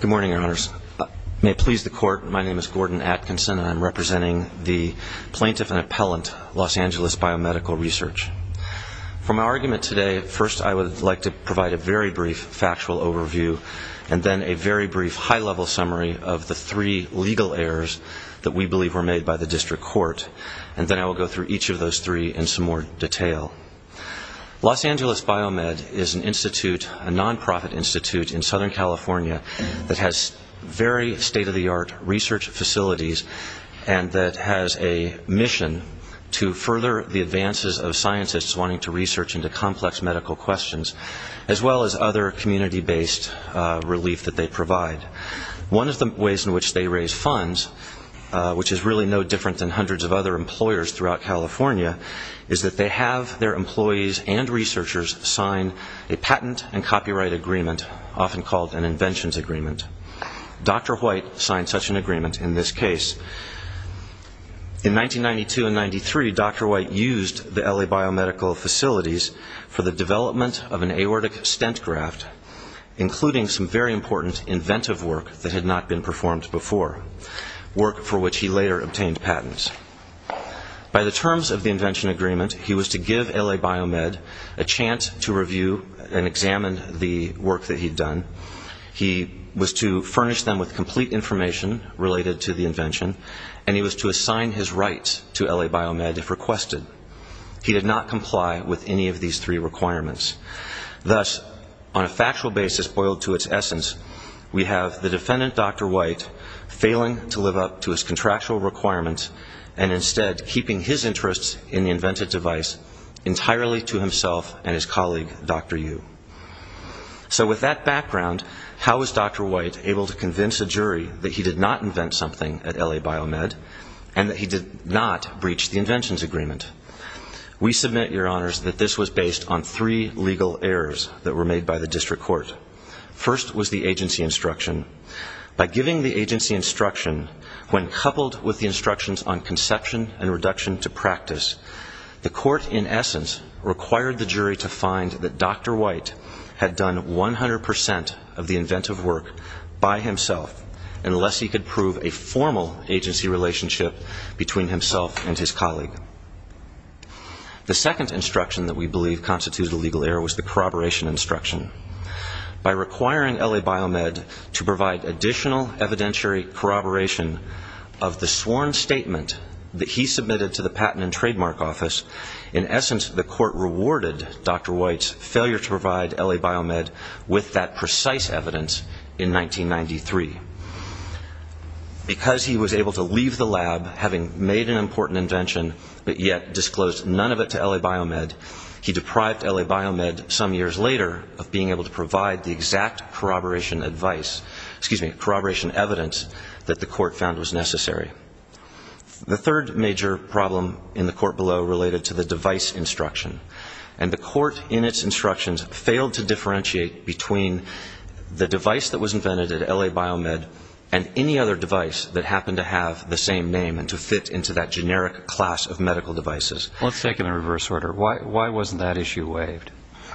Good morning, Your Honors. May it please the Court, my name is Gordon Atkinson, and I'm representing the Plaintiff and Appellant, Los Angeles Biomedical Research. For my argument today, first I would like to provide a very brief factual overview, and then a very brief high-level summary of the three legal errors that we believe were made by the District Court, and then I will go through each of those three in some more detail. Los Angeles Biomed is an institute, a non-profit institute, in Southern California that has very state-of-the-art research facilities and that has a mission to further the advances of scientists wanting to research into complex medical questions, as well as other community-based relief that they provide. One of the ways in which they raise funds, which is really no different than hundreds of other employers throughout California, is that they have their employees and researchers sign a patent and copyright agreement, often called an inventions agreement. Dr. White signed such an agreement in this case. In 1992 and 1993, Dr. White used the Los Angeles Biomedical facilities for the development of an aortic stent graft, including some very important inventive work that had not been performed before, work for which he later obtained patents. By the terms of the invention agreement, he was to give Los Angeles Biomed a chance to review and examine the work that he had done. He was to furnish them with complete information related to the invention, and he was to assign his rights to LA Biomed if requested. He did not comply with any of these three requirements. Thus, on a factual basis boiled to its essence, we have the defendant, Dr. White, failing to live up to his contractual requirements, and instead keeping his interests in the invented device entirely to himself and his colleague, Dr. Yu. So with that background, how was Dr. White able to convince a jury that he did not invent something at LA Biomed, and that he did not breach the inventions agreement? We submit, Your Honors, that this was based on three legal errors that were made by the district court. First was the agency instruction. By giving the agency instruction, when coupled with the instructions on conception and reduction to practice, the court, in essence, required the jury to find that Dr. White had done 100 percent of the inventive work by himself unless he could prove a formal agency relationship between himself and his colleague. The second instruction that we believe constituted a legal error was the corroboration instruction. By requiring LA Biomed to provide additional evidentiary corroboration of the sworn statement that he submitted to the Patent and Trademark Office, in essence, the court rewarded Dr. White's failure to provide LA Biomed with that precise evidence in 1993. Because he was able to leave the lab, having made an important invention, but yet disclosed none of it to LA Biomed, he deprived LA Biomed some years later of being able to provide the exact corroboration advice, excuse me, corroboration evidence that the court found was necessary. The third major problem in the court below related to the device instruction. And the court, in its instructions, failed to differentiate between the device that was invented at LA Biomed and any other device that happened to have the same name and to fit into that generic class of medical devices. Let's take it in reverse order. Why wasn't that issue waived?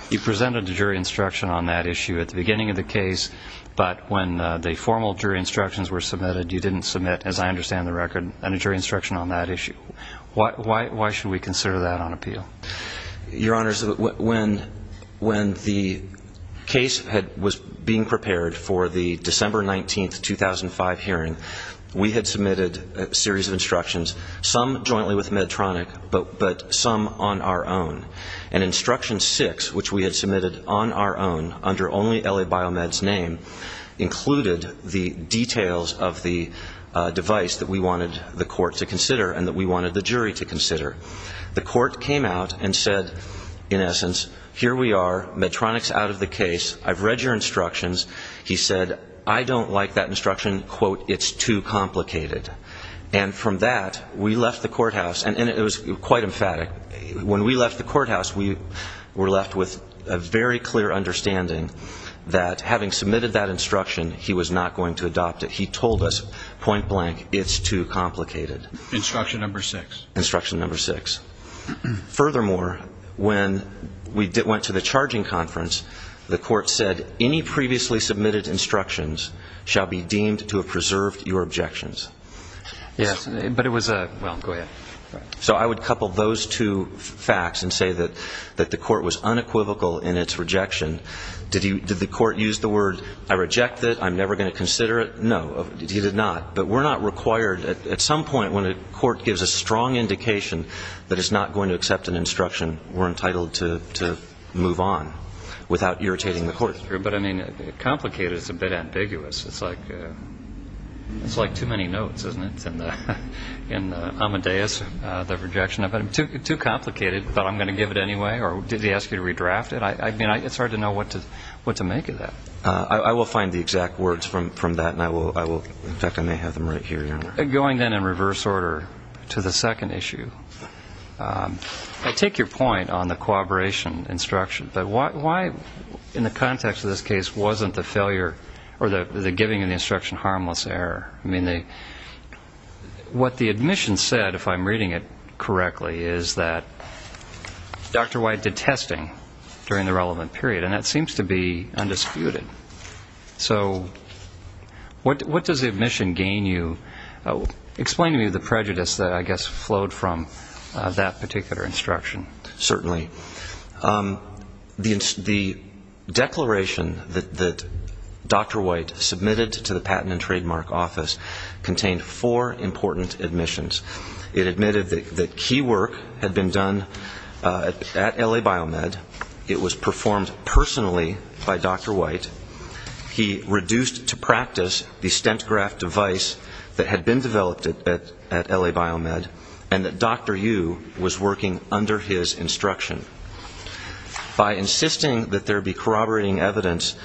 You presented a jury instruction on that issue at the beginning of the case, but when the formal jury instructions were submitted, you didn't submit, as I understand the record, a jury instruction on that issue. Why should we consider that on appeal? Your Honors, when the case was being prepared for the December 19, 2005 hearing, we had submitted a series of instructions, some jointly with Medtronic, but some on our own. And instruction 6, which we had submitted on our own under only LA Biomed's name, included the details of the device that we wanted the court to consider and that we wanted the jury to consider. The court came out and said, in essence, here we are, Medtronic's out of the case, I've read your instructions. He said, I don't like that instruction, quote, it's too complicated. And from that, we left the courthouse. And it was quite emphatic. When we left the courthouse, we were left with a very clear understanding that having submitted that instruction, he was not going to adopt it. He told us, point blank, it's too complicated. Instruction number 6. Instruction number 6. Furthermore, when we went to the charging conference, the court said any previously submitted instructions shall be deemed to have preserved your objections. So I would couple those two facts and say that the court was unequivocal in its rejection. Did the court use the word, I reject it, I'm never going to consider it? No, he did not. But we're not required, at some point when a court gives a strong indication that it's not going to accept an instruction, we're entitled to move on without irritating the court. But I mean, complicated is a bit ambiguous. It's like too many notes, isn't it? In Amadeus, the rejection of it. Too complicated, but I'm going to give it anyway? Or did he ask you to know what to make of that? I will find the exact words from that. In fact, I may have them right here. Going then in reverse order to the second issue, I take your point on the cooperation instruction, but why, in the context of this case, wasn't the giving of the instruction harmless error? I mean, what the admission said, if I'm reading it correctly, is that Dr. White did testing during the relevant period, and that seems to be undisputed. So what does the admission gain you? Explain to me the prejudice that, I guess, flowed from that particular instruction. Certainly. The declaration that Dr. White submitted to the Patent and Trademark Office contained four important admissions. It admitted that key work had been done at L.A. Biomed, it was performed personally by Dr. White, he reduced to practice the stent graft device that had been developed at L.A. Biomed, and that Dr. Yu was working under his instruction. By insisting that there be corroborating evidence,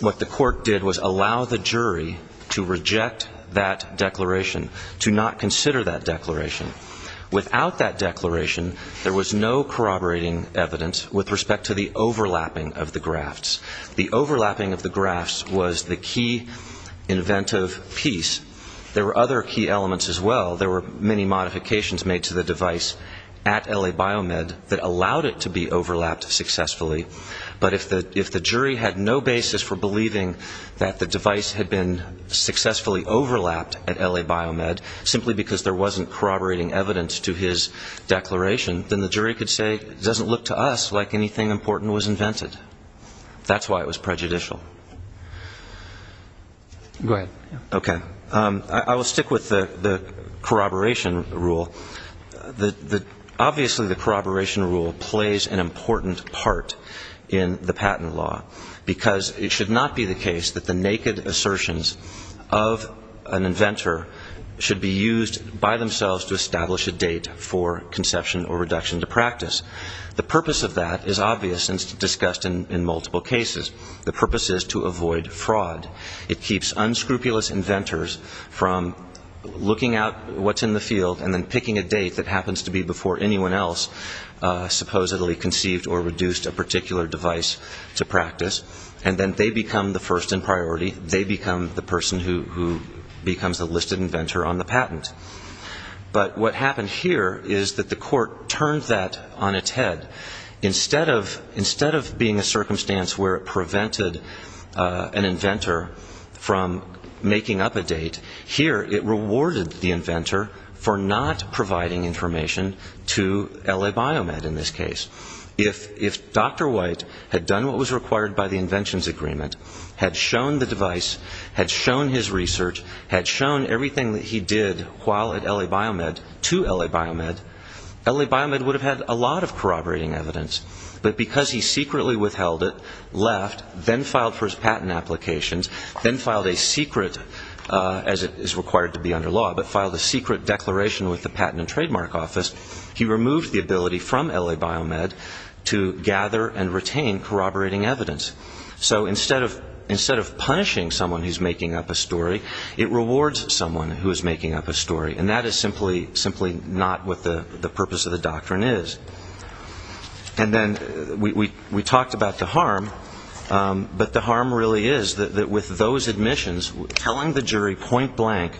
what the court did was allow the jury to reject that declaration, to not consider that declaration. Without that declaration, there was no corroborating evidence with respect to the overlapping of the grafts. The overlapping of the grafts was the key inventive piece. There were other key elements as well. There were many modifications made to the device at L.A. Biomed that allowed it to be overlapped successfully, but if the jury had no basis for believing that the device had been successfully overlapped at L.A. Biomed, simply because there wasn't corroborating evidence to his declaration, then the jury could say, it doesn't look to us like anything important was invented. That's why it was prejudicial. Go ahead. Okay. I will stick with the corroboration rule. Obviously the corroboration rule plays an important part in the patent law, because it should not be the case that the naked assertions of an inventor should be used by themselves to establish a date for conception or reduction to practice. The purpose of that is obvious and discussed in multiple cases. The purpose is to avoid fraud. It keeps unscrupulous inventors from looking out what's in the field and then picking a date that happens to be before anyone else supposedly conceived or reduced a particular device to practice, and then they become the first in priority. They become the person who becomes the listed inventor on the patent. But what happened here is that the court turned that on its head. Instead of being a circumstance where it prevented an inventor from making up a date, here it rewarded the inventor for not providing information to L.A. Biomed in this case. If Dr. White had done what was required by the inventions agreement, had shown the device, had shown his research, had shown everything that he did while at L.A. Biomed to L.A. Biomed, L.A. Biomed would have had a lot of corroborating evidence. But because he secretly withheld it, left, then filed for his patent applications, then filed a secret, as it is required to be under law, but filed a secret declaration with the Patent and Trademark Office, he removed the ability from L.A. Biomed to gather and retain corroborating evidence. So instead of punishing someone who's making up a story, it rewards someone who is making up a story. And that is simply not what the purpose of the doctrine is. And then we talked about the harm, but the harm really is that with those admissions, telling the jury point blank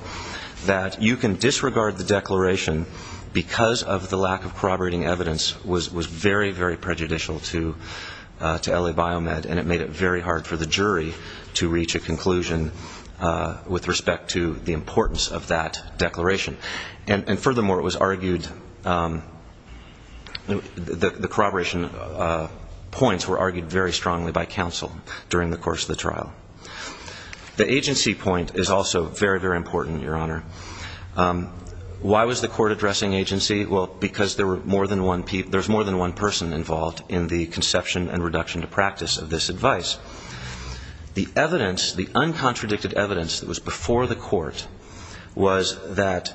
that you can disregard the declaration because of the lack of corroborating evidence was very, very prejudicial to L.A. Biomed, and it made it very hard for the jury to reach a conclusion with respect to the importance of that declaration. And furthermore, it was argued, the corroboration points were argued very strongly by counsel during the course of the trial. The agency point is also very, very important, Your Honor. Why was the court addressing agency? Well, because there's more than one person involved in the conception and reduction to practice of this advice. The evidence, the uncontradicted evidence that was before the court was that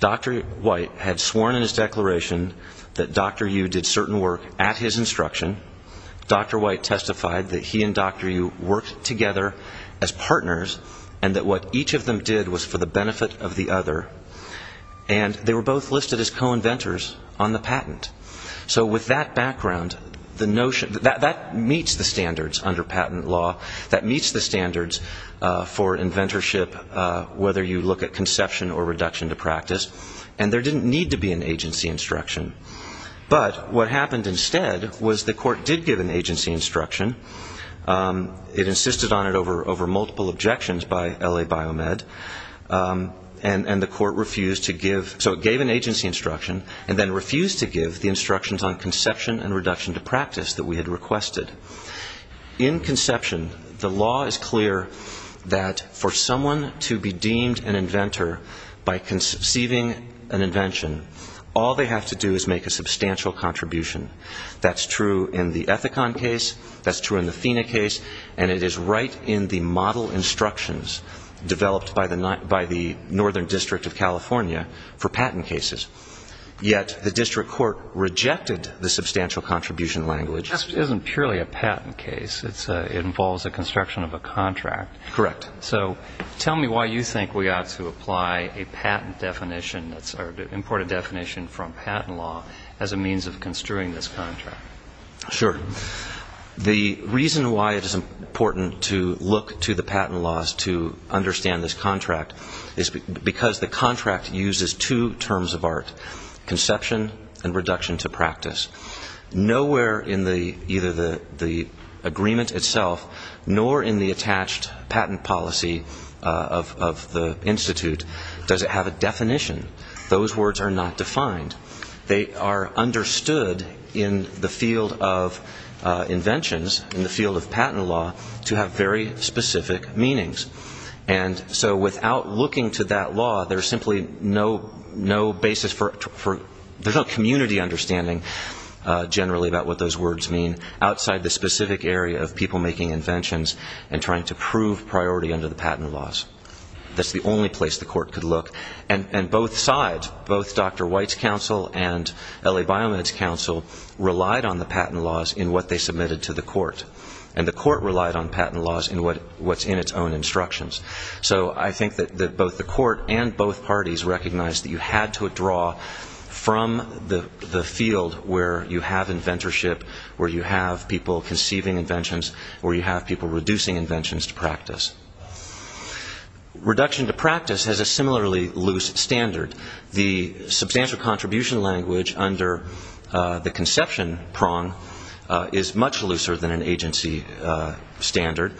Dr. White had sworn in his declaration that Dr. Yu did certain work at his instruction. Dr. White testified that he and Dr. Yu worked together as partners and that what each of them did was for the benefit of the other. And they were both listed as co-inventors on the patent. So with that background, the notion, that meets the standards under patent law, that meets the standards for inventorship, whether you look at conception or reduction to practice, and there didn't need to be an agency instruction. But what happened instead was the court did give an agency instruction. It insisted on it over multiple objections by LA Biomed. And the court refused to give, so it gave an agency instruction and then refused to give the instructions on conception and reduction to practice that we had requested. In conception, the law is clear that for someone to be deemed an inventor by conceiving an invention, all they have to do is make a substantial contribution. That's true in the Ethicon case, that's true in the FINA case, and it is right in the model instructions developed by the Northern District of California for patent cases. Yet the district court rejected the substantial contribution language. This isn't purely a patent case. It involves the construction of a contract. Correct. So tell me why you think we ought to apply a patent definition, or import a definition from patent law as a means of construing this contract. Sure. The reason why it is important to look to the patent laws to understand this contract is because the contract uses two terms of art, conception and reduction to practice. Nowhere in either the agreement itself nor in the attached patent policy of the Institute does it have a definition. Those words are not defined. They are understood in the field of inventions, in the field of patent law, to have very specific meanings. And so without looking to that law, there's simply no basis for, there's no community understanding generally about what those words mean outside the specific area of people making inventions and trying to prove priority under the patent laws. That's the only place the court could look. And both sides, both Dr. White's counsel and L.A. Biomed's counsel relied on the patent laws in what they submitted to the court. And the court relied on patent laws in what's in its own instructions. So I think that both the court and both parties recognized that you had to draw from the field where you have inventorship, where you have people conceiving inventions, where you have people reducing inventions to practice. Reduction to practice has a similarly loose standard. The substantial contribution language under the conception prong is much looser than an agency standard.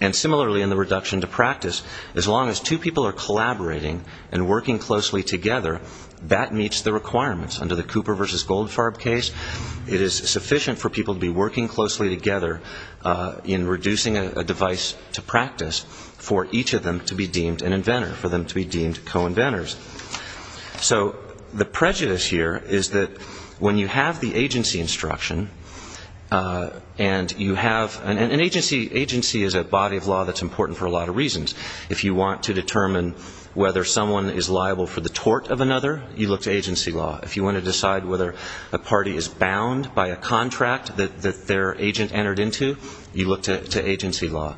And similarly in the reduction to practice, as long as two people are collaborating and working closely together, that meets the requirements. Under the Cooper v. Goldfarb case, it is sufficient for people to be working closely together in reducing a device to practice for each of them to be deemed an inventor, for them to be deemed co-inventors. So the prejudice here is that when you have the agency instruction and you have, and agency is a body of law that's important for a lot of reasons. If you want to determine whether someone is liable for the tort of another, you look to agency law. If you want to decide whether a party is bound by a contract that their agent entered into, you look to agency law.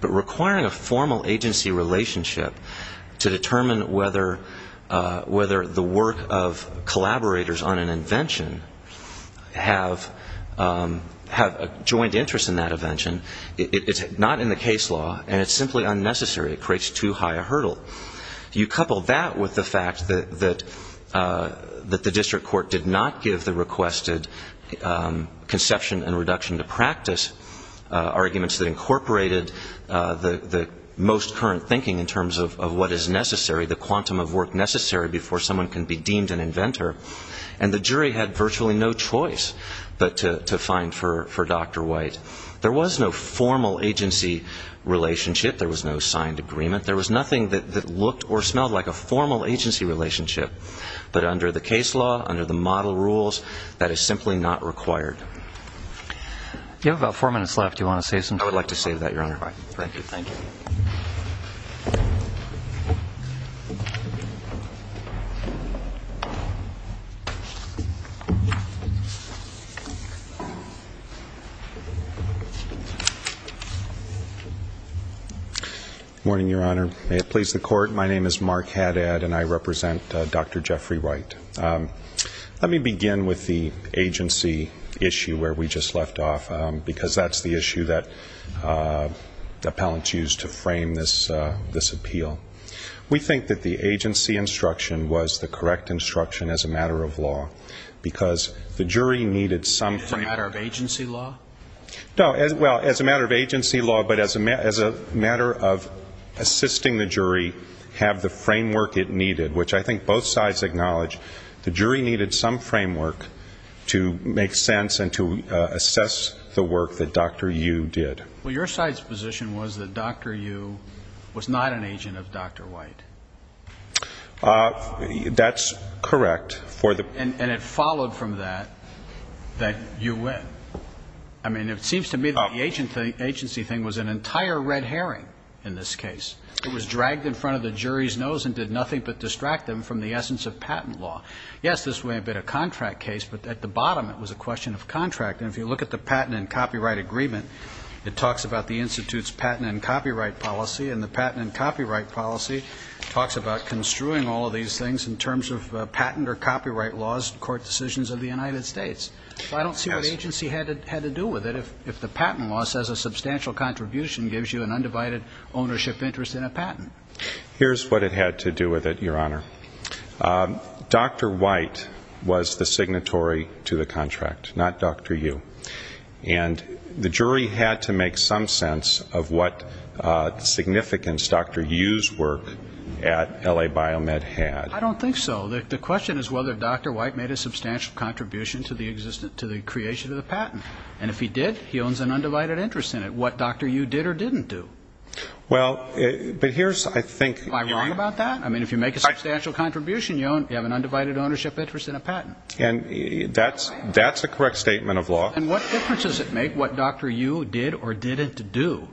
But requiring a formal agency relationship to determine whether the work of collaborators on an invention have a joint interest in that invention, it's not in the case law and it's simply unnecessary. It creates too high a hurdle. You couple that with the fact that the district court did not give the requested conception and reduction to practice arguments that incorporated the most current thinking in terms of what is necessary, the quantum of work necessary before someone can be deemed an inventor, and the jury had virtually no choice but to find for Dr. White. There was no formal agency relationship. There was no signed agreement. There was nothing that looked or smelled like a formal agency relationship. But under the case law, under the model rules, that is simply not required. You have about four minutes left. Do you want to say something? I would like to say that, Your Honor. All right. Thank you. Good morning, Your Honor. May it please the court, my name is Mark Hadad and I represent Dr. Jeffrey White. Let me begin with the agency issue where we just left off, because that's the issue that appellants use to frame this appeal. We think that the agency instruction was the correct instruction as a matter of law, because the jury needed some frame. As a matter of agency law? No, well, as a matter of agency law, but as a matter of assisting the jury have the framework it needed, which I think both sides acknowledge. The jury needed some framework to make sense and to assess the work that Dr. Yu did. Well, your side's position was that Dr. Yu was not an agent of Dr. White. That's correct. And it followed from that that you win. I mean, it seems to me that the agency thing was an entire red herring in this case. It was dragged in front of the jury's nose and did nothing but distract them from the essence of patent law. Yes, this may have been a contract case, but at the bottom it was a question of contract. And if you look at the patent and copyright agreement, it talks about the institute's patent and copyright policy, and the patent and copyright policy talks about construing all of these things in terms of patent or copyright laws, court decisions of the United States. I don't see what agency had to do with it if the patent law says a substantial contribution gives you an undivided ownership interest in a patent. Here's what it had to do with it, Your Honor. Dr. White was the signatory to the contract, not Dr. Yu. And the jury had to make some sense of what significance Dr. Yu's work at L.A. Biomed had. I don't think so. The question is whether Dr. White made a substantial contribution to the creation of the patent. And if he did, he owns an undivided interest in it, what Dr. Yu did or didn't do. Well, but here's, I think... Am I wrong about that? I mean, if you make a substantial contribution, you have an undivided ownership interest in a patent. That's a correct statement of law. And what difference does it make what Dr. Yu did or didn't do?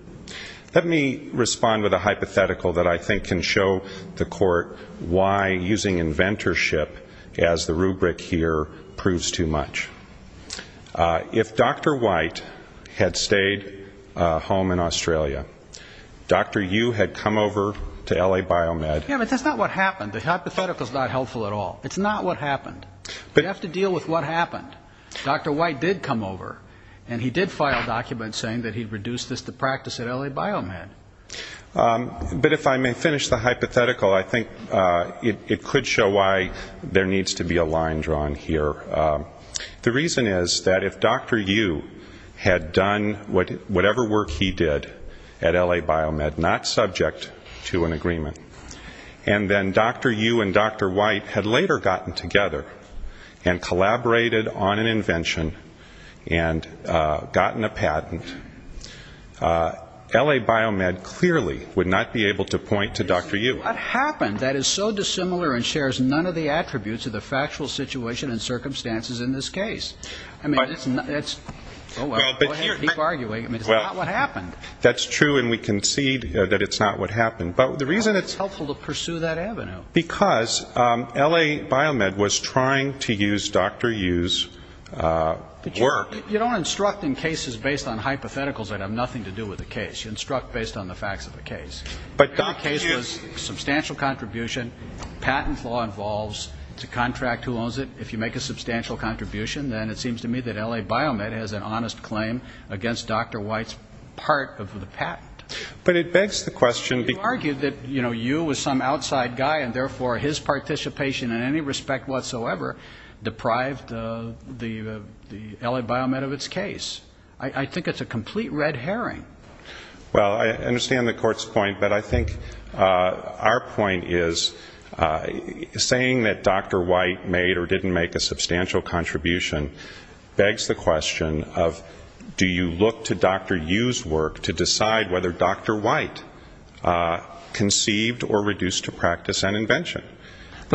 Let me respond with a hypothetical that I think can show the Court why using inventorship as the rubric here proves too much. If Dr. White had stayed home in Australia, Dr. Yu had come over to L.A. Biomed... Yeah, but that's not what happened. The hypothetical's not helpful at all. It's not what happened. You have to deal with what happened. Dr. White did come over, and he did file a document saying that he reduced this to practice at L.A. Biomed. But if I may finish the hypothetical, I think it could show why there needs to be a line drawn here. The reason is that if Dr. Yu had done whatever work he did at L.A. Biomed, not subject to an agreement, and then Dr. Yu and Dr. White had later gotten together and collaborated on an invention and gotten a patent, L.A. Biomed clearly would not be able to point to Dr. Yu. What happened that is so dissimilar and shares none of the attributes of the factual situation and circumstances in this case? I mean, it's not... Oh, well, go ahead and keep arguing. I mean, it's not what happened. That's true, and we concede that it's not what happened. But the reason it's... How is it helpful to pursue that avenue? Because L.A. Biomed was trying to use Dr. Yu's work. You don't instruct in cases based on hypotheticals that have nothing to do with the case. You instruct based on the facts of the case. But Dr. Yu... The case was substantial contribution. Patent law involves. It's a contract. Who owns it? If you make a substantial contribution, then it seems to me that L.A. Biomed has an honest claim against Dr. White's part of the patent. But it begs the question... You argued that Yu was some outside guy, and therefore his participation in any respect whatsoever deprived the L.A. Biomed of its case. I think it's a complete red herring. Well, I understand the court's point, but I think our point is saying that Dr. White made or didn't make a substantial contribution begs the question of do you look to Dr. Yu's work to decide whether Dr. White conceived or reduced to practice an invention?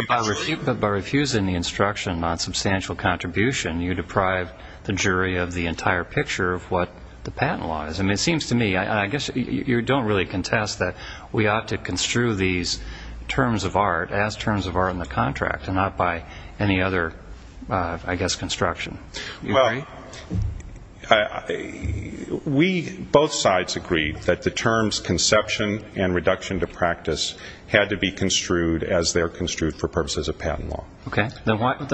By refusing the instruction on substantial contribution, you deprive the jury of the entire picture of what the patent law is. I mean, it seems to me, and I guess you don't really contest that we ought to construe these terms of art as terms of art in the contract and not by any other, I guess, construction. Well, we, both sides agreed that the terms conception and reduction to practice had to be construed as they're construed for purposes of patent law. Okay, then why should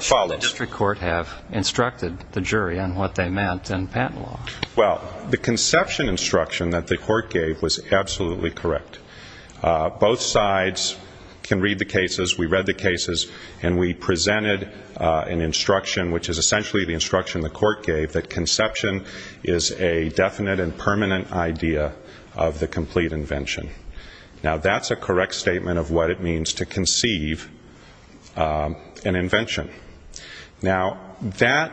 the district court have instructed the jury on what they meant in patent law? Well, the conception instruction that the court gave was absolutely correct. Both sides can read the cases. We read the cases, and we presented an instruction, which is essentially the instruction the court gave, that conception is a definite and permanent idea of the complete invention. Now, that's a correct statement of what it means to conceive an invention. Now that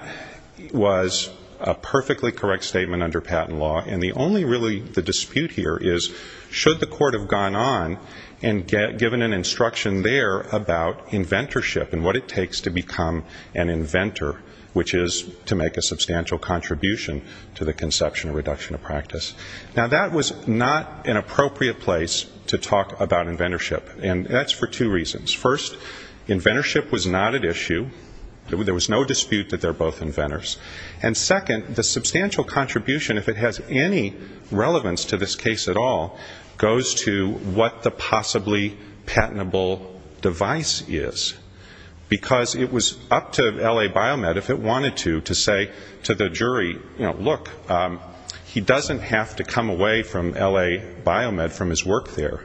was a perfectly correct statement under patent law, and the only really dispute here is should the court have gone on and given an instruction there about inventorship and what it takes to become an inventor, which is to make a substantial contribution to the conception or reduction of practice. Now that was not an appropriate place to talk about inventorship, and that's for two reasons. First, inventorship was not at issue. There was no dispute that they're both inventors. And second, the substantial contribution, if it has any relevance to this case at all, goes to what the possibly patentable device is, because it was up to L.A. Biomed, if it wanted to, to say to the jury, you know, look, he doesn't have to come away from L.A. Biomed from his work there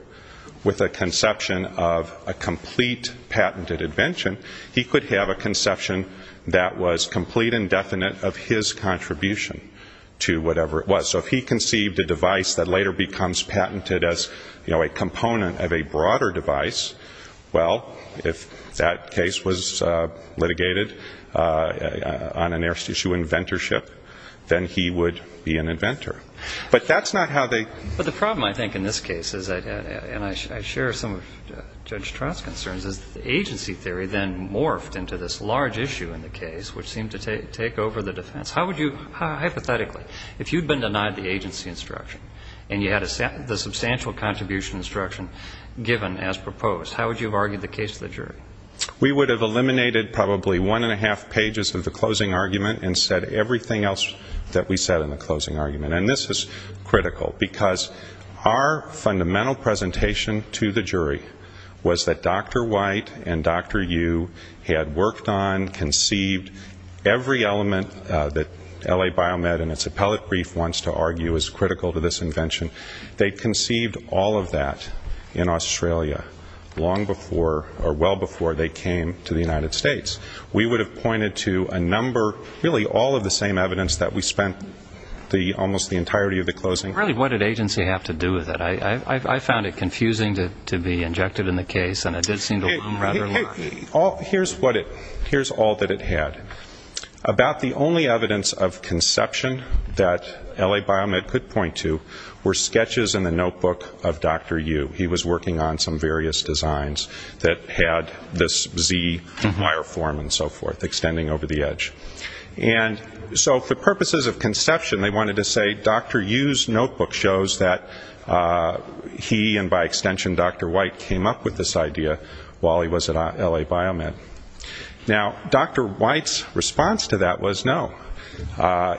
with a conception of a complete patented invention. He could have a conception that was complete and definite of his contribution to whatever it was. So if he conceived a device that later becomes patented as, you know, a component of a broader device, well, if that case was litigated on an heirs to issue inventorship, then he would be an inventor. But that's not how they ---- But the problem, I think, in this case is, and I share some of Judge Trott's concerns, is that the agency theory then morphed into this large issue in the case, which seemed to take over the defense. How would you, hypothetically, if you'd been denied the agency instruction and you had the substantial contribution instruction given as proposed, how would you have argued the case to the jury? We would have eliminated probably one and a half pages of the closing argument and said everything else that we said in the closing argument. And this is critical, because our client and Dr. Yu had worked on, conceived, every element that L.A. Biomed and its appellate brief wants to argue is critical to this invention. They conceived all of that in Australia long before or well before they came to the United States. We would have pointed to a number ---- really, all of the same evidence that we spent almost the entirety of the closing ---- Really, what did agency have to do with it? I found it confusing to be injected in the case, and it did seem to ---- Here's what it ---- here's all that it had. About the only evidence of conception that L.A. Biomed could point to were sketches in the notebook of Dr. Yu. He was working on some various designs that had this Z wire form and so forth, extending over the edge. And so for purposes of conception, they wanted to say Dr. Yu's notebook shows that he and by extension Dr. White came up with this idea while he was at L.A. Biomed. Now, Dr. White's response to that was no.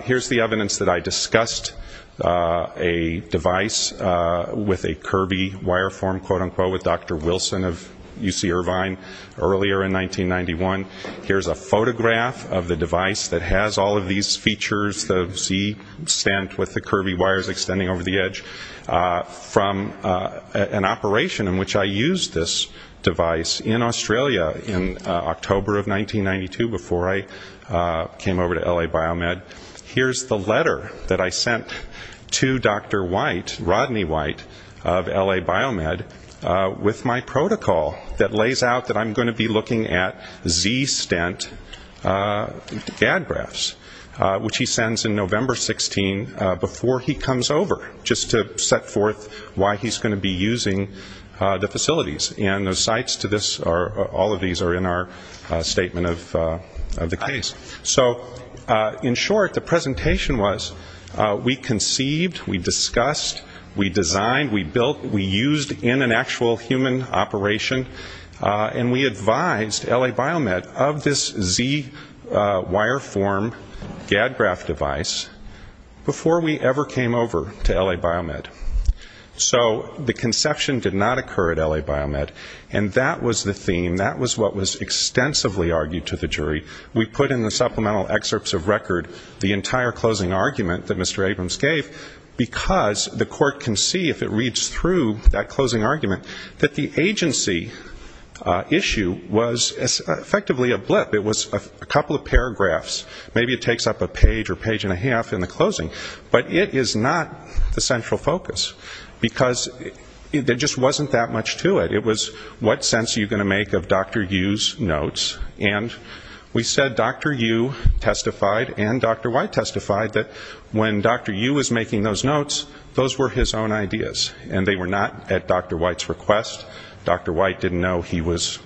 Here's the evidence that I discussed a device with a Kirby wire form, quote-unquote, with Dr. Wilson of UC Irvine earlier in 1991. Here's a photograph of the device that has all of these features, the Z stand with the Kirby wires extending over the edge, from an operation in which I used this device in Australia in October of 1992 before I came over to L.A. Biomed. Here's the letter that I sent to Dr. White, Rodney White of L.A. Biomed, with my protocol that lays out that I'm going to be looking at Z stent gag graphs, which he sends in November 16 before he comes over. Just to set forth why he's going to be using the facilities. And the sites to this, all of these are in our statement of the case. So in short, the presentation was we conceived, we discussed, we designed, we built, we used in an actual human operation, and we advised L.A. Biomed of this Z wire form gag graph device before we ever came over to L.A. Biomed. So the conception did not occur at L.A. Biomed, and that was the theme. That was what was extensively argued to the jury. We put in the supplemental excerpts of record the entire closing argument that Mr. Abrams gave because the court can see if it reads through that closing argument that the agency issue was effectively a blip. It was a couple of paragraphs. Maybe it takes up a page or page and a half in the closing, but it is not the central focus because there just wasn't that much to it. It was what sense are you going to make of Dr. Yu's notes, and we said Dr. Yu testified and Dr. White testified that when Dr. Yu was making those notes, those were his own ideas, and they were not at Dr. White's request. Dr. White didn't know he was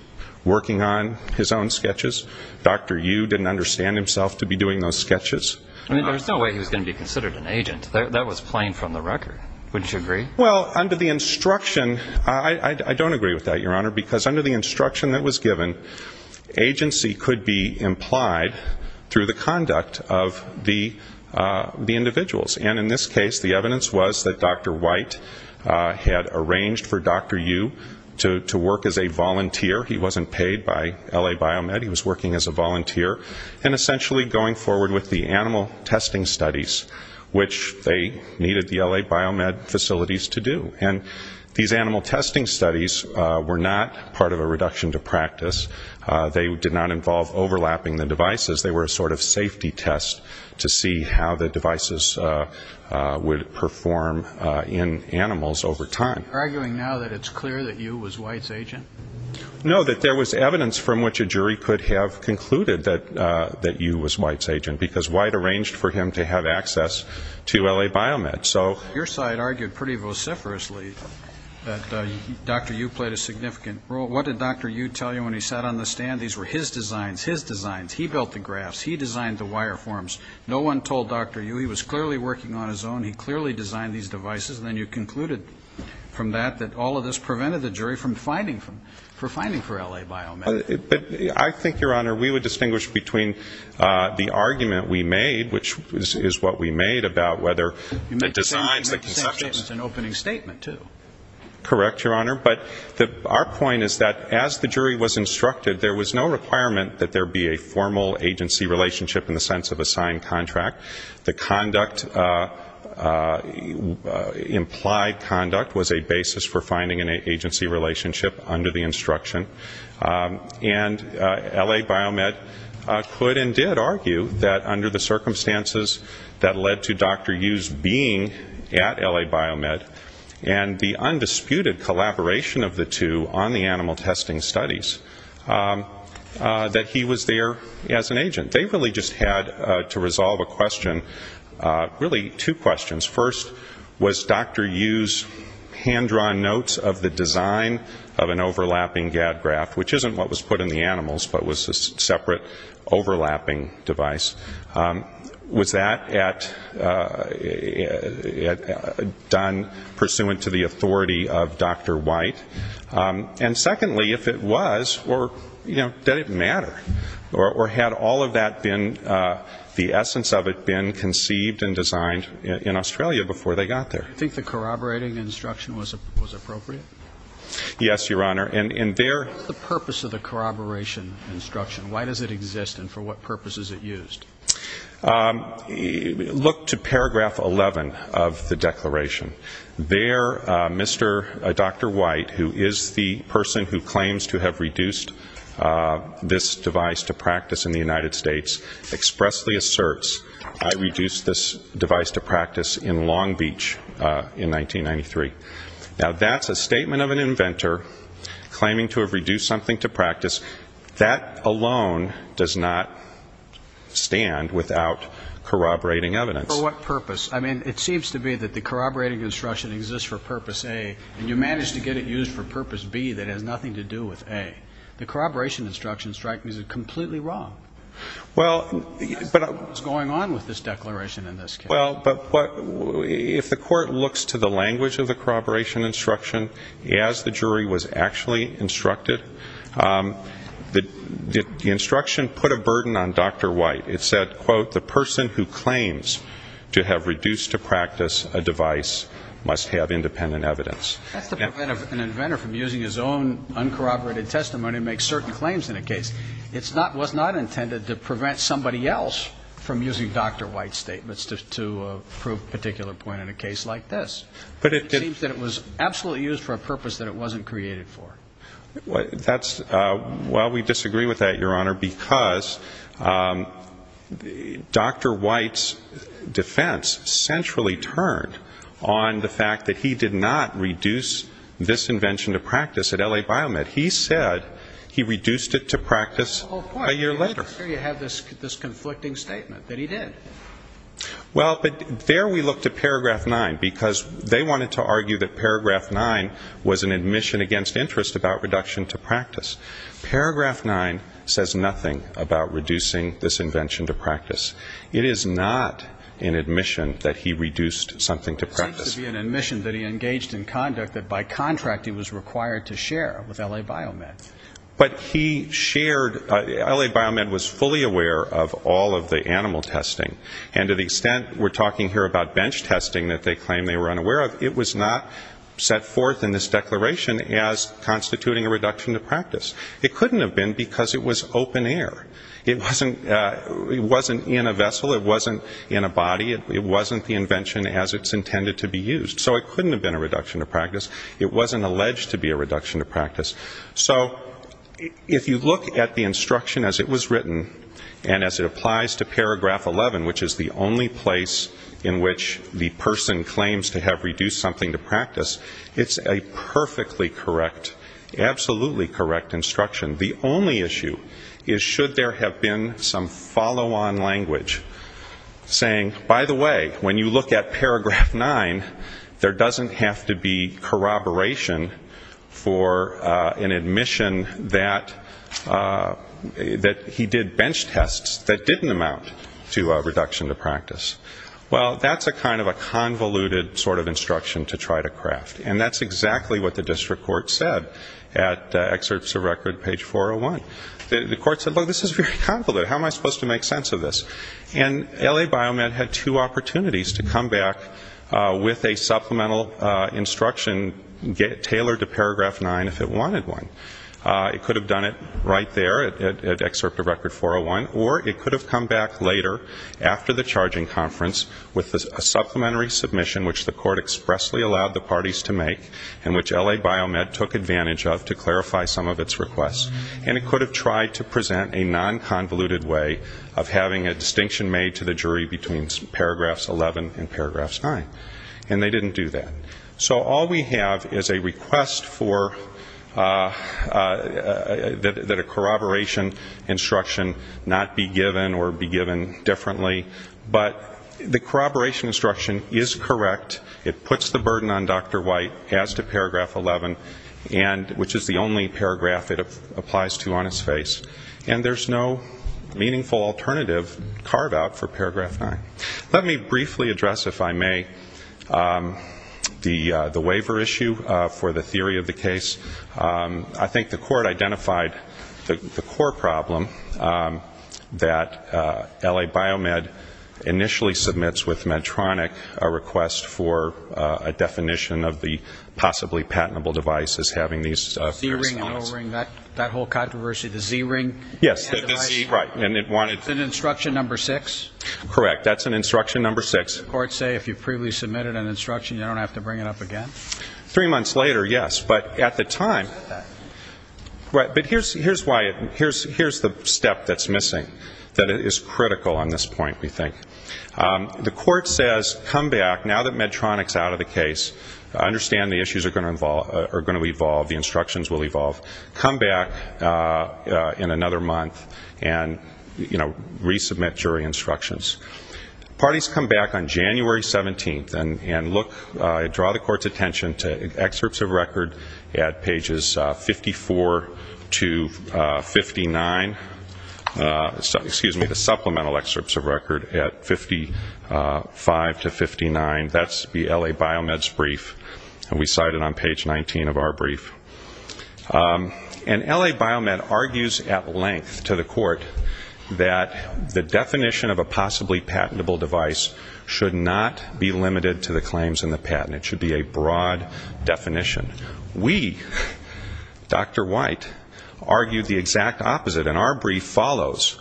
working on his own sketches. Dr. Yu didn't understand himself to be doing those sketches. I mean, there was no way he was going to be considered an agent. That was plain from the record. Wouldn't you agree? Well, under the instruction, I don't agree with that, Your Honor, because under the instruction that was given, agency could be implied through the conduct of the individuals, and in this case the evidence was that Dr. White had arranged for Dr. Yu to work as a volunteer. He wasn't paid by L.A. Biomed. He was working as a volunteer and essentially going forward with the animal testing studies, which they needed the L.A. Biomed facilities to do, and these animal testing studies were not part of a reduction to practice. They did not involve overlapping the devices. They were a sort of safety test to see how the devices would perform in animals over time. Are you arguing now that it's clear that Yu was White's agent? No, that there was evidence from which a jury could have concluded that Yu was White's agent, because White arranged for him to have access to L.A. Biomed. Your side argued pretty vociferously that Dr. Yu played a significant role. What did Dr. Yu tell you when he sat on the stand? These were his designs, his designs. He built the graphs. He designed the wire forms. No one told Dr. Yu. He was clearly working on his own. He clearly designed these devices, and then you concluded from that that all of a sudden you prevented the jury from finding, for finding for L.A. Biomed. I think, Your Honor, we would distinguish between the argument we made, which is what we made about whether the designs, the conceptions. You made the same statement, an opening statement, too. Correct, Your Honor, but our point is that as the jury was instructed, there was no requirement that there be a formal agency relationship in the sense of a signed contract. The conduct, the implied conduct was a basis for finding an agency relationship under the instruction, and L.A. Biomed could and did argue that under the circumstances that led to Dr. Yu's being at L.A. Biomed and the undisputed collaboration of the two on the animal testing studies, that he was there as an agent. They really just had to resolve a question, really two questions. First, was Dr. Yu's hand-drawn notes of the design of an overlapping GAD graph, which isn't what was put in the animals, but was a separate overlapping device, was that done pursuant to the authority of the judge, or did it matter? Or had all of that been, the essence of it been conceived and designed in Australia before they got there? Do you think the corroborating instruction was appropriate? Yes, Your Honor, and there What was the purpose of the corroboration instruction? Why does it exist, and for what purpose is it used? Look to paragraph 11 of the declaration. There, Dr. White, who is the person who claims to have reduced this device to practice in the United States, expressly asserts, I reduced this device to practice in Long Beach in 1993. Now, that's a statement of an inventor claiming to have reduced something to practice. That alone does not stand without corroborating evidence. For what purpose? I mean, it seems to be that the corroborating instruction exists for purpose A, and you managed to get it used for purpose B that has nothing to do with A. The corroboration instruction is completely wrong. What's going on with this declaration in this case? If the court looks to the language of the corroboration instruction, as the jury was actually instructed, the instruction put a burden on Dr. White. It said, quote, the person who claims to have reduced to practice a device must have independent evidence. That's to prevent an inventor from using his own uncorroborated testimony to make certain claims in a case. It was not intended to prevent somebody else from using Dr. White's statements to prove a particular point in a case like this. It seems that it was absolutely used for a purpose that it wasn't created for. Well, we disagree with that, Your Honor, because Dr. White's defense centrally turned on the fact that he did not reduce this invention to practice at L.A. Biomed. He said he reduced it to practice a year later. I'm sure you have this conflicting statement that he did. Well, there we look to paragraph 9, because they wanted to argue that paragraph 9 was an admission against interest about reduction to practice. Paragraph 9 says nothing about reducing this invention to practice. It is not an admission that he reduced something to practice. It seems to be an admission that he engaged in conduct that by contract he was required to share with L.A. Biomed. But he shared, L.A. Biomed was fully aware of all of the animal testing. And to the extent we're talking here about bench testing that they claim they were unaware of, it was not set forth in this declaration as constituting a reduction to practice. It couldn't have been because it was open air. It wasn't in a vessel. It wasn't in a body. It wasn't the invention as it's intended to be used. So it couldn't have been a reduction to practice. It wasn't alleged to be a reduction to practice. So if you look at the instruction as it was written, and as it applies to paragraph 11, which is the only place in which the person claims to have reduced something to practice, it's a perfectly correct, absolutely correct instruction. The only issue is should there have been some follow-on language saying, by the way, when you look at paragraph 9, there doesn't have to be corroboration for an admission that he did bench tests that didn't amount to a reduction to practice. Well, that's a kind of a convoluted sort of instruction to try to craft. And that's exactly what the district court said at excerpts of record page 401. The court said, look, this is very convoluted. How am I supposed to make sense of this? And L.A. Biomed had two opportunities to come back with a supplemental instruction tailored to paragraph 9 if it wanted one. It could have done it right there at excerpt of record 401, or it could have come back later after the charging conference with a supplementary submission, which the court expressly allowed the parties to make and which L.A. Biomed took advantage of to clarify some of its requests. And it could have tried to present a non-convoluted way of having a distinction made to the jury between paragraphs 11 and paragraphs 9. And they didn't do that. So all we have is a request that a corroboration instruction not be given or be given differently. But the corroboration instruction is correct. It puts the burden on Dr. White as to paragraph 11, which is the only paragraph it applies to on its face. And there's no meaningful alternative carved out for paragraph 9. Let me briefly address, if I may, the waiver issue for the theory of the case. I think the court identified the core problem that L.A. Biomed initially submits with Medtronic a request for a definition of the possibly patentable device as having these. The Z-ring and O-ring, that whole controversy, the Z-ring? Yes, the Z, right, and it wanted It's an instruction number 6? Correct. That's an instruction number 6. Did the court say if you previously submitted an instruction, you don't have to bring it up again? Three months later, yes, but at the time But here's the step that's missing, that is critical on this point, we think. The court says come back, now that Medtronic's out of the case, understand the issues are going to evolve, the instructions will evolve, come back in another month and resubmit jury instructions. Parties come back on January 17th and draw the court's attention to excerpts of record at pages 54 to 59, the supplemental excerpts of record at 55 to 59, that's the L.A. Biomed's brief and we cite it on page 19 of our brief, and L.A. Biomed argues at length to the court that the definition of a possibly patentable device should not be limited to the claims and the patent, it should be a broad definition. We, Dr. White, argued the exact opposite and our brief follows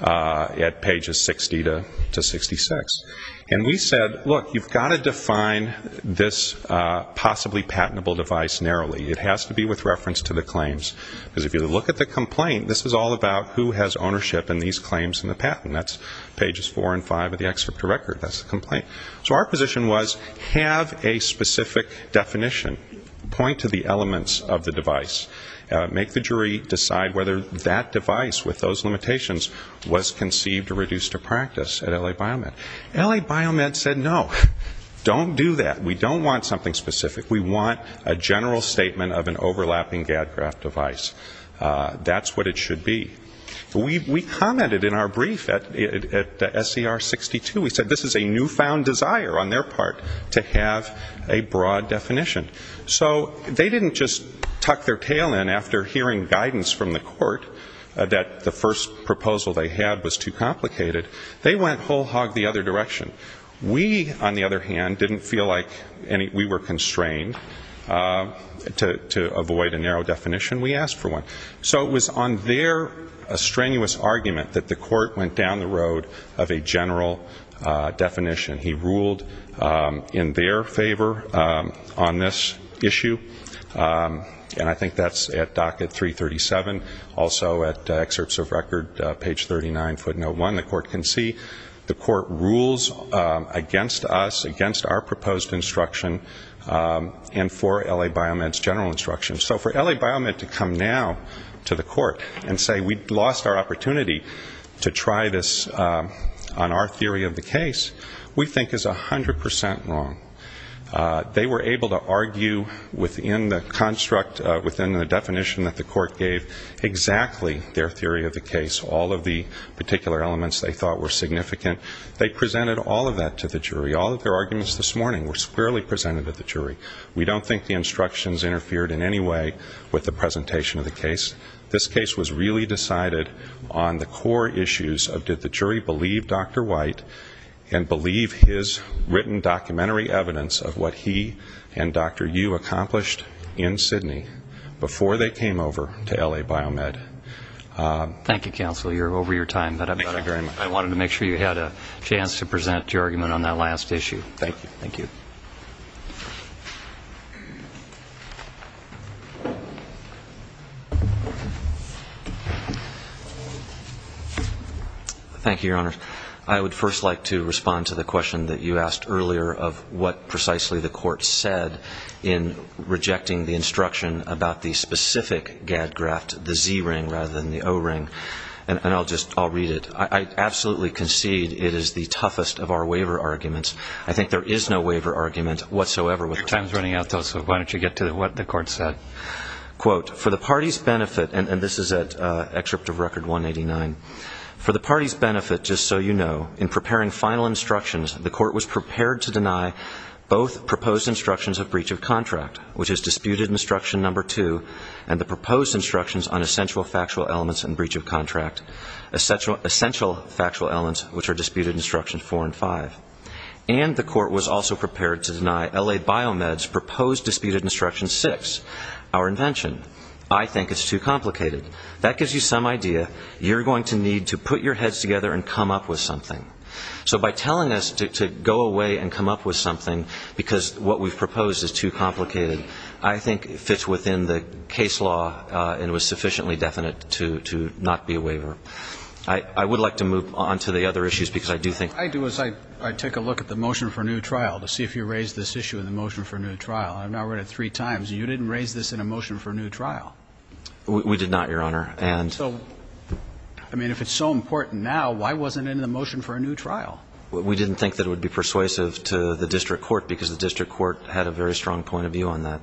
at pages 60 to 66, and we said, look, you've got to define this possibly patentable device narrowly, it has to be with reference to the claims, because if you look at the complaint, this is all about who has ownership in these claims and the patent, that's pages four and five of the excerpt to record, that's the complaint. So our position was have a specific definition, point to the elements of the device, make the jury decide whether that device with those limitations was conceived or reduced to practice at L.A. Biomed. L.A. Biomed said no, don't do that, we don't want something specific, we want a general statement of an overlapping GADGRAF device, that's what it should be. We commented in our brief at SCR 62, we said this is a newfound desire on their part to have a broad definition. So they didn't just tuck their tail in after hearing guidance from the court that the first proposal they had was too complicated, they went whole hog the other direction. We, on the other hand, didn't feel like we were constrained to avoid a narrow definition, we asked for one. So it was on their strenuous argument that the court went down the road of a general definition. He ruled in their favor on this issue, and I think that's at docket 337, also at excerpts of record, page 39, footnote one, the court can see, the court rules against us, against our proposed instruction, and for L.A. Biomed's general instruction. So for L.A. Biomed to come now to the court and say we lost our opportunity to try this on our theory of the case, we think is 100% wrong. They were able to argue within the construct, within the definition that the court gave, exactly their theory of the case, all of the particular elements they thought were significant, they presented all of that to the jury, all of their arguments this morning were squarely presented to the jury. We don't think the instructions interfered in any way with the presentation of the case. This case was really decided on the core issues of did the jury believe Dr. White and believe his written documentary evidence of what he and Dr. Yu accomplished in Sydney before they So I would like to ask you, counsel, you're over your time, but I wanted to make sure you had a chance to present your argument on that last issue. Thank you. Thank you, Your Honor. I would first like to respond to the question that you asked earlier of what precisely the court said in rejecting the instruction about the specific gag graft, the Z-ring rather than the O-ring. And I'll just, I'll read it. I absolutely concede it is the toughest of our waiver arguments. I think there is no waiver argument whatsoever with the court. Your time is running out, so why don't you get to what the court said. For the party's benefit, and this is at Excerpt of Record 189, for the party's benefit, just so you know, in preparing final instructions, the court was prepared to deny both proposed of breach of contract, which is disputed instruction number two, and the proposed instructions on essential factual elements and breach of contract, essential factual elements, which are disputed instructions four and five. And the court was also prepared to deny LA Biomed's proposed disputed instruction six, our invention. I think it's too complicated. That gives you some idea. You're going to need to put your heads together and come up with something. So by telling us to go away and come up with something, because what we've proposed is too complicated, I think it fits within the case law and was sufficiently definite to not be a waiver. I would like to move on to the other issues, because I do think I do as I take a look at the motion for a new trial to see if you raised this issue in the motion for a new trial. I've now read it three times. You didn't raise this in a motion for a new trial. We did not, Your Honor. And so, I mean, if it's so important now, why wasn't it in the motion for a new trial? We didn't think that it would be persuasive to the district court because the district court had a very strong point of view on that.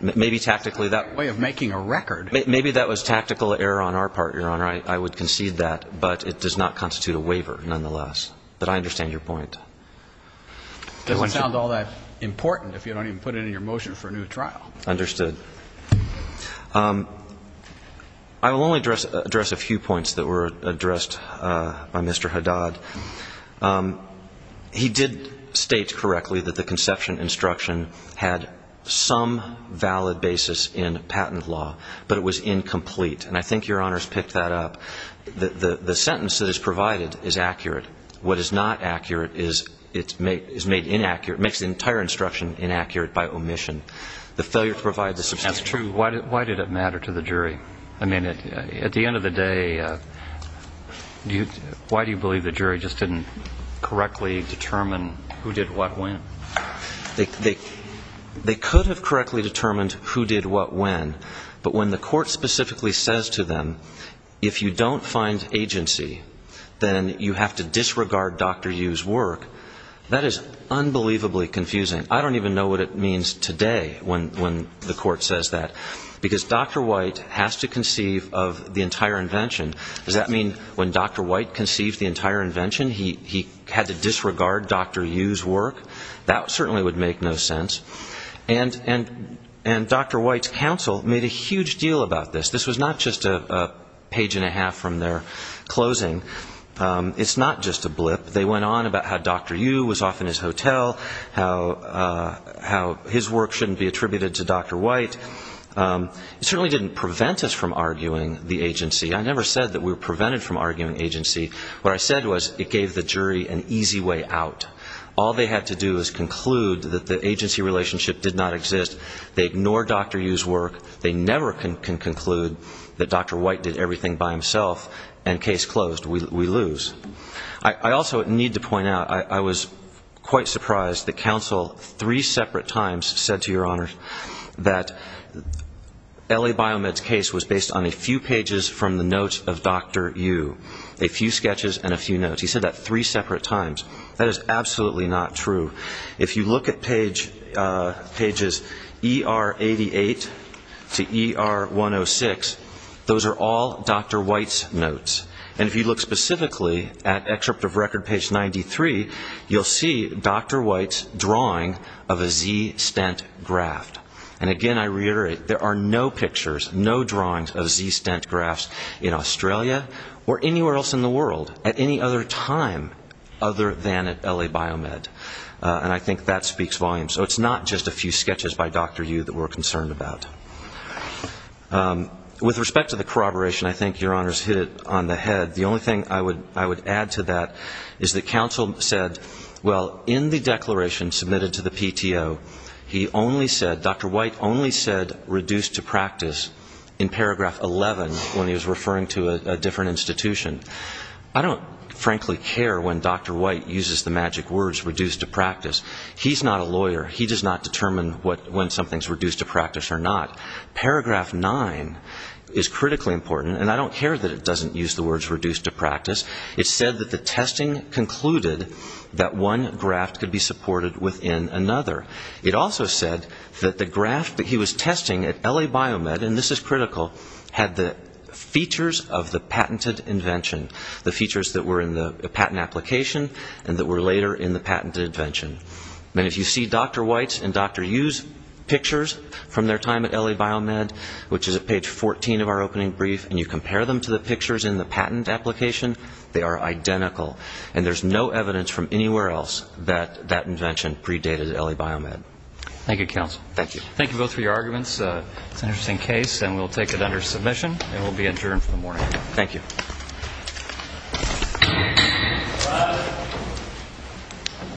Maybe tactically that way of making a record. Maybe that was tactical error on our part, Your Honor. I would concede that, but it does not constitute a waiver nonetheless. But I understand your point. It doesn't sound all that important if you don't even put it in your motion for a new trial. Understood. I will only address a few points that were addressed by Mr. Haddad. He did state correctly that the conception instruction had some valid basis in patent law, but it was incomplete. And I think Your Honor's picked that up. The sentence that is provided is accurate. What is not accurate is it's made inaccurate, makes the entire instruction inaccurate by omission. The failure to provide the substance. That's true. Why did it matter to the jury? I mean, at the end of the day, why do you believe the jury just didn't correctly determine who did what when? They could have correctly determined who did what when, but when the court specifically says to them, if you don't find agency, then you have to disregard Dr. Yu's work, that is unbelievably confusing. I don't even know what it means today when the court says that. Because Dr. White has to conceive of the entire invention. Does that mean when Dr. White conceived the entire invention, he had to disregard Dr. Yu's work? That certainly would make no sense. And Dr. White's counsel made a huge deal about this. This was not just a page and a half from their closing. It's not just a blip. They went on about how Dr. Yu was off in his hotel, how his work shouldn't be attributed to Dr. White. It certainly didn't prevent us from arguing the agency. I never said that we were prevented from arguing agency. What I said was it gave the jury an easy way out. All they had to do was conclude that the agency relationship did not exist. They ignored Dr. Yu's work. They never can conclude that Dr. White did everything by himself, and case closed. We lose. I also need to point out, I was quite surprised that counsel, three separate times, said to your Honor that L.A. Biomed's case was based on a few pages from the notes of Dr. Yu. A few sketches and a few notes. He said that three separate times. That is absolutely not true. If you look at pages ER88 to ER106, those are all Dr. White's notes. And if you look specifically at excerpt of record page 93, you'll see Dr. White's drawing of a Z stent graft. And again, I reiterate, there are no pictures, no drawings of Z stent grafts in Australia or anywhere else in the world at any other time other than at L.A. Biomed. And I think that speaks volumes. So it's not just a few sketches by Dr. Yu that we're concerned about. With respect to the corroboration, I think your Honor's hit it on the head. The only thing I would add to that is that counsel said, well, in the declaration submitted to the PTO, he only said, Dr. White only said reduced to practice in paragraph 11 when he was referring to a different institution. I don't frankly care when Dr. White uses the magic words reduced to practice. He's not a lawyer. He does not determine when something's not. Paragraph 9 is critically important. And I don't care that it doesn't use the words reduced to practice. It said that the testing concluded that one graft could be supported within another. It also said that the graft that he was testing at L.A. Biomed, and this is critical, had the features of the patented invention, the features that were in the patent application and that were later in the patented invention. And if you see Dr. White's and L.A. Biomed, which is at page 14 of our opening brief, and you compare them to the pictures in the patent application, they are identical. And there's no evidence from anywhere else that that invention predated L.A. Biomed. Thank you, counsel. Thank you. Thank you both for your arguments. It's an interesting case, and we'll take it under submission and we'll be adjourned for the morning. Thank you.